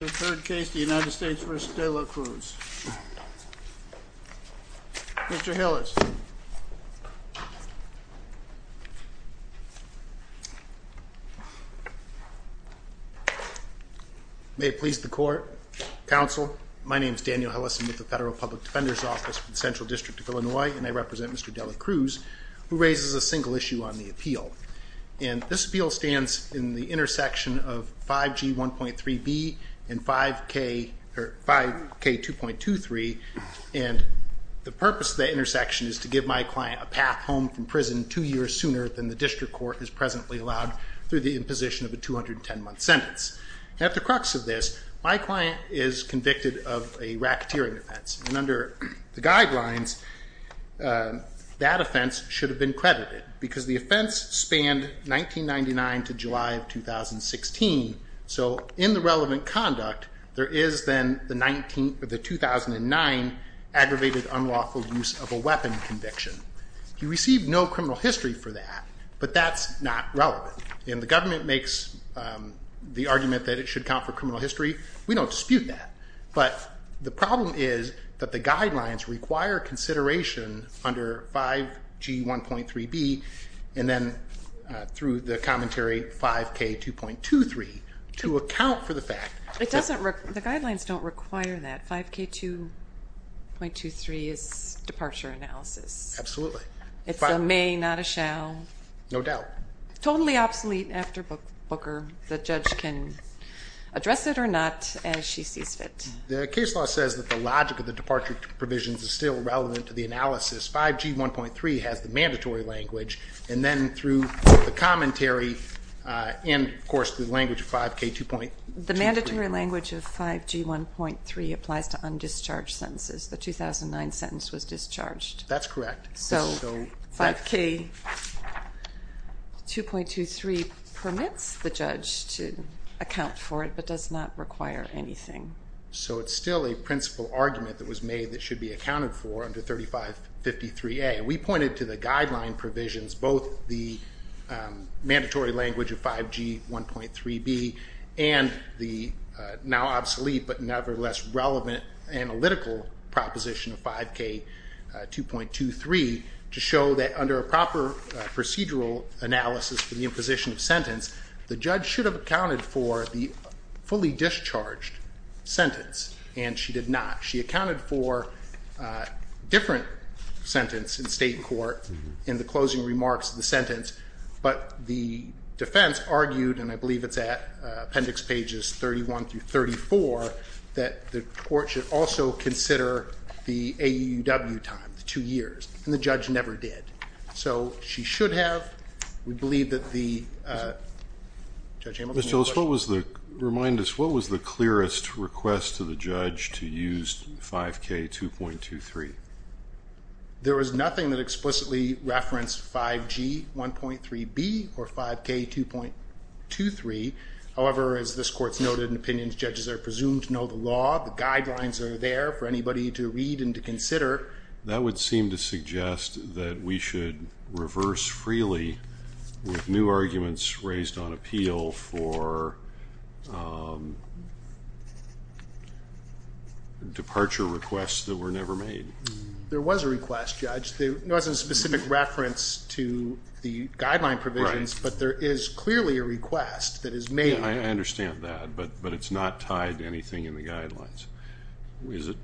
The third case, the United States v. De La Cruz. Mr. Hillis. May it please the court. Counsel, my name is Daniel Hillis. I'm with the Federal Public Defender's Office for the Central District of Illinois. And I represent Mr. De La Cruz, who raises a single issue on the appeal. And this appeal stands in the intersection of 5G 1.3B and 5K 2.23. And the purpose of the intersection is to give my client a path home from prison two years sooner than the district court has presently allowed through the imposition of a 210 month sentence. At the crux of this, my client is convicted of a racketeering offense. And under the guidelines, that offense should have been credited. Because the offense spanned 1999 to July of 2016. So in the relevant conduct, there is then the 2009 aggravated unlawful use of a weapon conviction. He received no criminal history for that, but that's not relevant. And the government makes the argument that it should count for criminal history. We don't dispute that. But the problem is that the guidelines require consideration under 5G 1.3B and then through the commentary 5K 2.23 to account for the fact. The guidelines don't require that. 5K 2.23 is departure analysis. Absolutely. It's a may, not a shall. No doubt. Totally obsolete after Booker. The judge can address it or not as she sees fit. The case law says that the logic of the departure provisions is still relevant to the analysis. 5G 1.3 has the mandatory language. And then through the commentary and, of course, the language of 5K 2.23. The mandatory language of 5G 1.3 applies to undischarged sentences. The 2009 sentence was discharged. That's correct. So 5K 2.23 permits the judge to account for it but does not require anything. So it's still a principal argument that was made that should be accounted for under 3553A. We pointed to the guideline provisions, both the mandatory language of 5G 1.3B and the now obsolete but nevertheless relevant analytical proposition of 5K 2.23, to show that under a proper procedural analysis for the imposition of sentence, the judge should have accounted for the fully discharged sentence. And she did not. She accounted for a different sentence in state court in the closing remarks of the sentence. But the defense argued, and I believe it's at appendix pages 31 through 34, that the court should also consider the AUW time, the two years. And the judge never did. So she should have. Remind us, what was the clearest request to the judge to use 5K 2.23? There was nothing that explicitly referenced 5G 1.3B or 5K 2.23. However, as this court's noted in opinions, judges are presumed to know the law. The guidelines are there for anybody to read and to consider. That would seem to suggest that we should reverse freely with new arguments raised on appeal for departure requests that were never made. There was a request, Judge. There wasn't a specific reference to the guideline provisions, but there is clearly a request that is made. I understand that, but it's not tied to anything in the guidelines. Is it?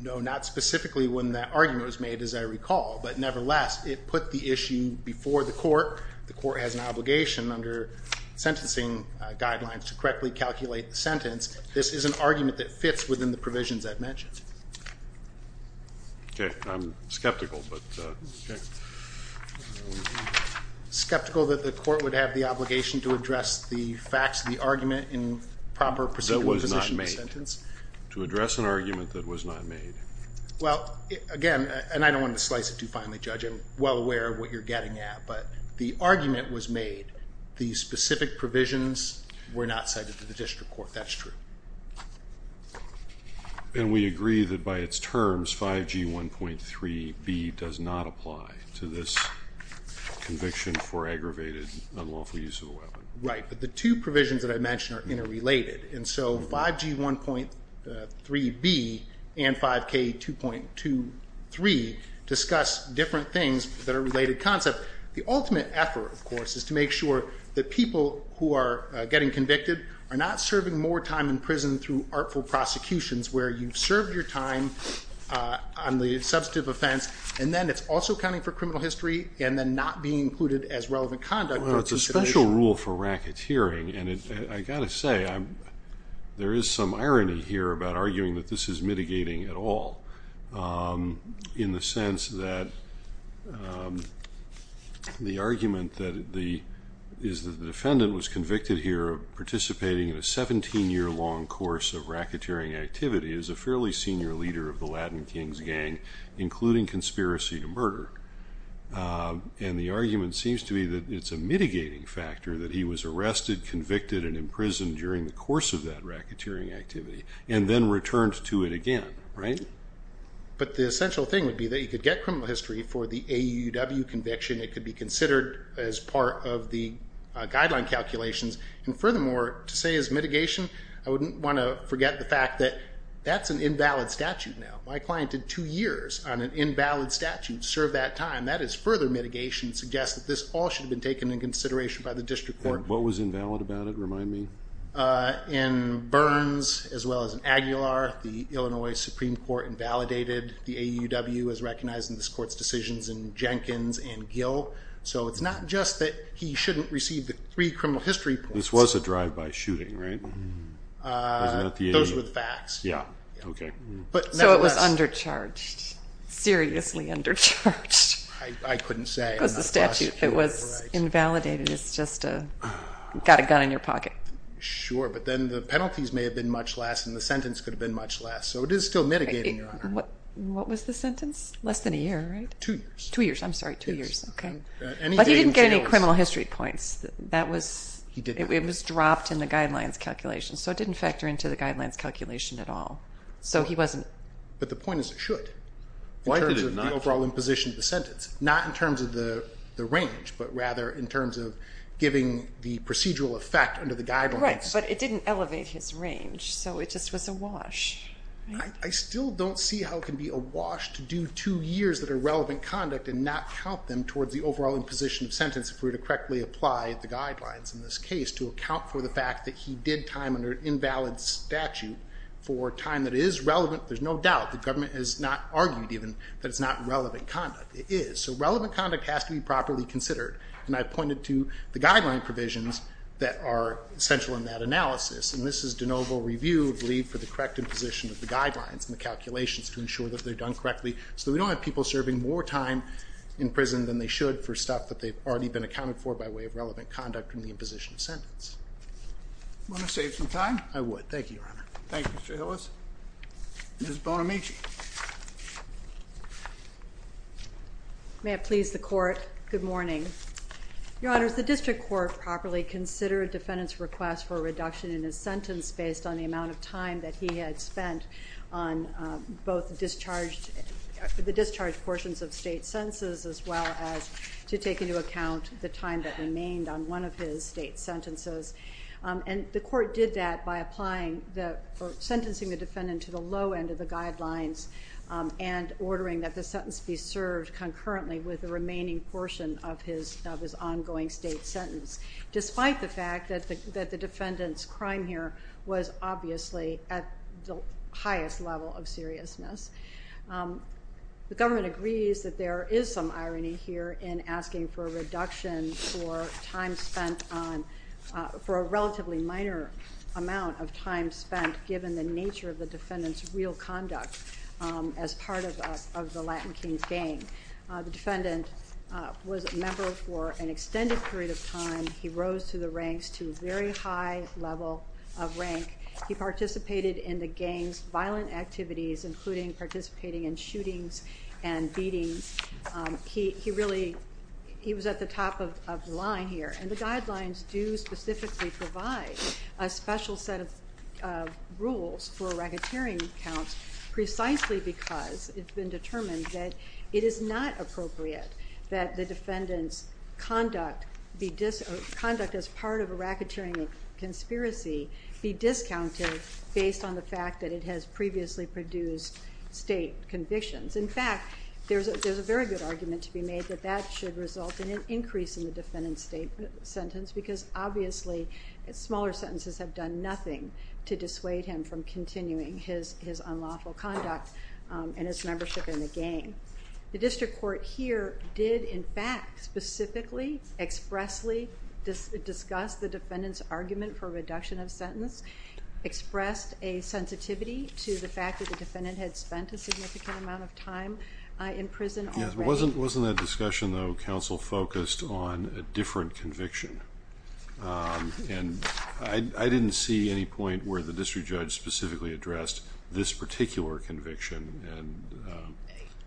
No, not specifically when that argument was made, as I recall. But nevertheless, it put the issue before the court. The court has an obligation under sentencing guidelines to correctly calculate the sentence. This is an argument that fits within the provisions I've mentioned. Okay. I'm skeptical, but okay. Skeptical that the court would have the obligation to address the facts of the argument in proper procedural position of the sentence? To address an argument that was not made. Well, again, and I don't want to slice it too finely, Judge. I'm well aware of what you're getting at. But the argument was made. The specific provisions were not cited to the district court. That's true. And we agree that by its terms, 5G 1.3b does not apply to this conviction for aggravated unlawful use of a weapon. Right. But the two provisions that I mentioned are interrelated. And so 5G 1.3b and 5K 2.23 discuss different things that are related concept. The ultimate effort, of course, is to make sure that people who are getting convicted are not serving more time in prison through artful prosecutions where you've served your time on the substantive offense, and then it's also accounting for criminal history and then not being included as relevant conduct. Well, it's a special rule for racketeering. And I've got to say, there is some irony here about arguing that this is mitigating at all, in the sense that the argument that the defendant was convicted here of participating in a 17-year-long course of racketeering activity is a fairly senior leader of the Latin Kings gang, including conspiracy to murder. And the argument seems to be that it's a mitigating factor that he was arrested, convicted, and imprisoned during the course of that racketeering activity and then returned to it again, right? But the essential thing would be that you could get criminal history for the AUW conviction. It could be considered as part of the guideline calculations. And furthermore, to say it's mitigation, I wouldn't want to forget the fact that that's an invalid statute now. My client did two years on an invalid statute to serve that time. That is further mitigation to suggest that this all should have been taken into consideration by the district court. What was invalid about it? Remind me. In Burns as well as in Aguilar, the Illinois Supreme Court invalidated the AUW as recognized in this court's decisions in Jenkins and Gill. So it's not just that he shouldn't receive the three criminal history reports. This was a drive-by shooting, right? Those were the facts. So it was undercharged. Seriously undercharged. I couldn't say. Because the statute, it was invalidated. It's just got a gun in your pocket. Sure, but then the penalties may have been much less and the sentence could have been much less. So it is still mitigating, Your Honor. What was the sentence? Less than a year, right? Two years. Two years. I'm sorry. Two years. But he didn't get any criminal history points. It was dropped in the guidelines calculation. So it didn't factor into the guidelines calculation at all. So he wasn't... But the point is it should. Why did it not? In terms of the overall imposition of the sentence. Not in terms of the range, but rather in terms of giving the procedural effect under the guidelines. Right, but it didn't elevate his range. So it just was a wash. I still don't see how it can be a wash to do two years that are relevant conduct and not count them towards the overall imposition of sentence if we were to correctly apply the guidelines in this case to account for the fact that he did time under an invalid statute for time that is relevant. There's no doubt. The government has not argued even that it's not relevant conduct. It is. So relevant conduct has to be properly considered. And I pointed to the guideline provisions that are central in that analysis. And this is de novo review, I believe, for the correct imposition of the guidelines and the calculations to ensure that they're done correctly so that we don't have people serving more time in prison than they should for stuff that they've already been accounted for by way of relevant conduct in the imposition of sentence. Want to save some time? I would. Thank you, Your Honor. Thank you, Mr. Hillis. Ms. Bonamici. May it please the Court, good morning. Your Honors, the district court properly considered defendant's request for a reduction in his sentence based on the amount of time that he had spent on both the discharge portions of state sentences as well as to take into account the time that remained on one of his state sentences. And the court did that by sentencing the defendant to the low end of the guidelines and ordering that the sentence be served concurrently with the remaining portion of his ongoing state sentence, despite the fact that the defendant's crime here was obviously at the highest level of seriousness. The government agrees that there is some irony here in asking for a reduction for time spent on, for a relatively minor amount of time spent given the nature of the defendant's real conduct The defendant was a member for an extended period of time. He rose through the ranks to a very high level of rank. He participated in the gang's violent activities, including participating in shootings and beatings. He really, he was at the top of the line here. And the guidelines do specifically provide a special set of rules for racketeering counts, precisely because it's been determined that it is not appropriate that the defendant's conduct as part of a racketeering conspiracy be discounted based on the fact that it has previously produced state convictions. In fact, there's a very good argument to be made that that should result in an increase in the defendant's state sentence because obviously smaller sentences have done nothing to dissuade him from continuing his unlawful conduct and his membership in the gang. The district court here did, in fact, specifically expressly discuss the defendant's argument for reduction of sentence, expressed a sensitivity to the fact that the defendant had spent a significant amount of time in prison already. Wasn't that discussion, though, counsel, focused on a different conviction? And I didn't see any point where the district judge specifically addressed this particular conviction.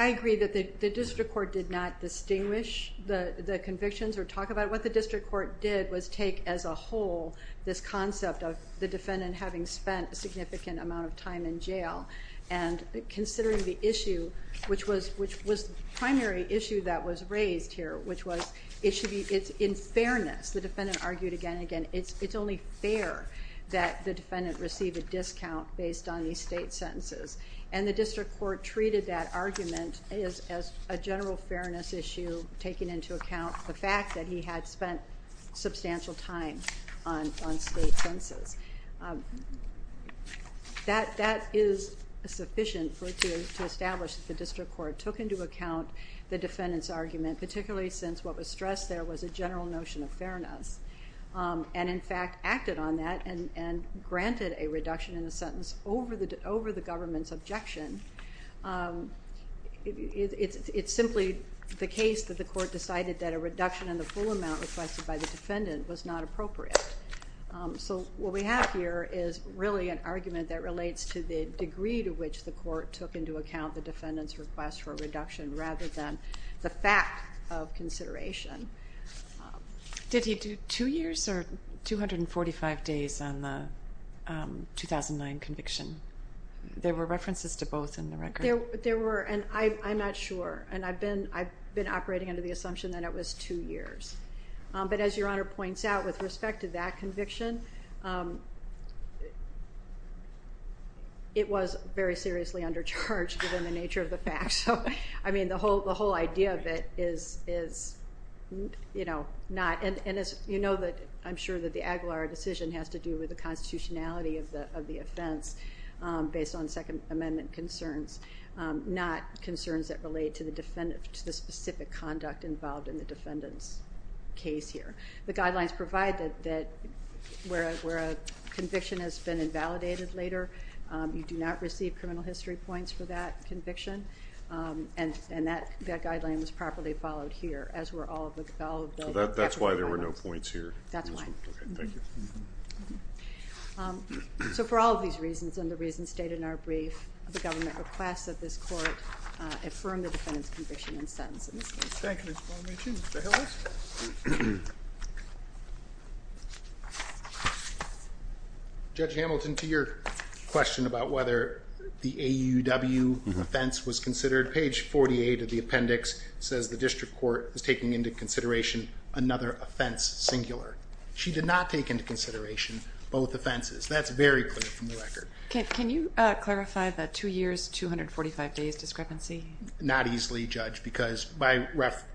I agree that the district court did not distinguish the convictions or talk about it. What the district court did was take as a whole this concept of the defendant having spent a significant amount of time in jail and considering the issue, which was the primary issue that was raised here, which was it should be in fairness. The defendant argued again and again it's only fair that the defendant receive a discount based on these state sentences. And the district court treated that argument as a general fairness issue, taking into account the fact that he had spent substantial time on state sentences. That is sufficient to establish that the district court took into account the defendant's argument, particularly since what was stressed there was a general notion of fairness and, in fact, acted on that and granted a reduction in the sentence over the government's objection. It's simply the case that the court decided that a reduction in the full amount requested by the defendant was not appropriate. So what we have here is really an argument that relates to the degree to which the court took into account the defendant's request for a reduction rather than the fact of consideration. Did he do two years or 245 days on the 2009 conviction? There were references to both in the record. There were, and I'm not sure, and I've been operating under the assumption that it was two years. But as Your Honor points out, with respect to that conviction, it was very seriously under charge given the nature of the fact. So, I mean, the whole idea of it is, you know, not, and you know that I'm sure that the Aguilar decision has to do with the constitutionality of the offense based on Second Amendment concerns, not concerns that relate to the specific conduct involved in the defendant's case here. The guidelines provide that where a conviction has been invalidated later, you do not receive criminal history points for that conviction. And that guideline was properly followed here, as were all of the federal guidelines. So that's why there were no points here? That's why. Okay, thank you. So for all of these reasons, and the reasons stated in our brief, the government requests that this court affirm the defendant's conviction and sentence in this case. Thank you, Ms. Bonamici. Mr. Hillis? Judge Hamilton, to your question about whether the AUW offense was considered, page 48 of the appendix says the district court is taking into consideration another offense singular. She did not take into consideration both offenses. That's very clear from the record. Okay, can you clarify the two years, 245 days discrepancy? Not easily, Judge, because my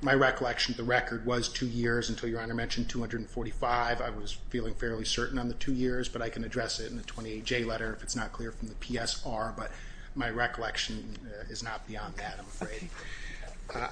recollection of the record was two years until Your Honor mentioned 245. I was feeling fairly certain on the two years, but I can address it in the 28J letter if it's not clear from the PSR, but my recollection is not beyond that, I'm afraid.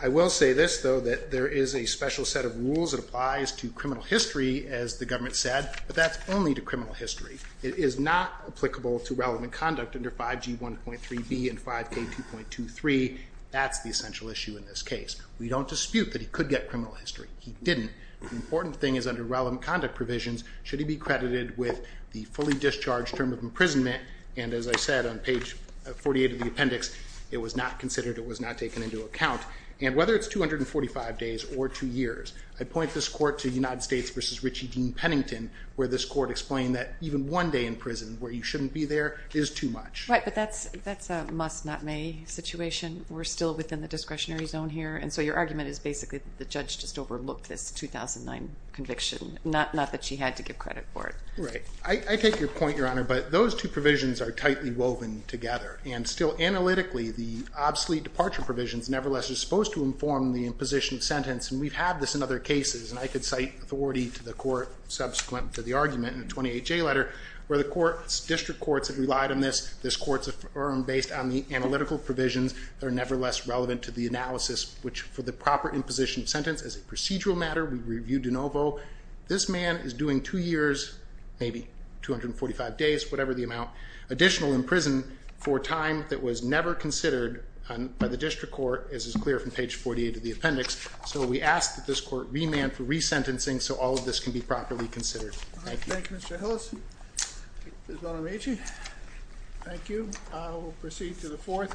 I will say this, though, that there is a special set of rules that applies to criminal history, as the government said, but that's only to criminal history. It is not applicable to relevant conduct under 5G1.3B and 5K2.23. That's the essential issue in this case. We don't dispute that he could get criminal history. He didn't. The important thing is under relevant conduct provisions, should he be credited with the fully discharged term of imprisonment, and as I said on page 48 of the appendix, it was not considered, it was not taken into account, and whether it's 245 days or two years, I point this court to United States v. Richie Dean Pennington, where this court explained that even one day in prison where you shouldn't be there is too much. Right, but that's a must-not-may situation. We're still within the discretionary zone here, and so your argument is basically the judge just overlooked this 2009 conviction, not that she had to give credit for it. Right. I take your point, Your Honor, but those two provisions are tightly woven together, and still analytically the obsolete departure provisions nevertheless are supposed to inform the imposition sentence, and we've had this in other cases, and I could cite authority to the court subsequent to the argument in a 28J letter where the district courts have relied on this, this court's affirmed based on the analytical provisions that are nevertheless relevant to the analysis, which for the proper imposition sentence as a procedural matter, we reviewed de novo, this man is doing two years, maybe 245 days, whatever the amount, additional in prison for a time that was never considered by the district court, as is clear from page 48 of the appendix, so we ask that this court remand for resentencing so all of this can be properly considered. Thank you. Thank you, Mr. Hillis. Ms. Bonamici, thank you. We'll proceed to the fourth.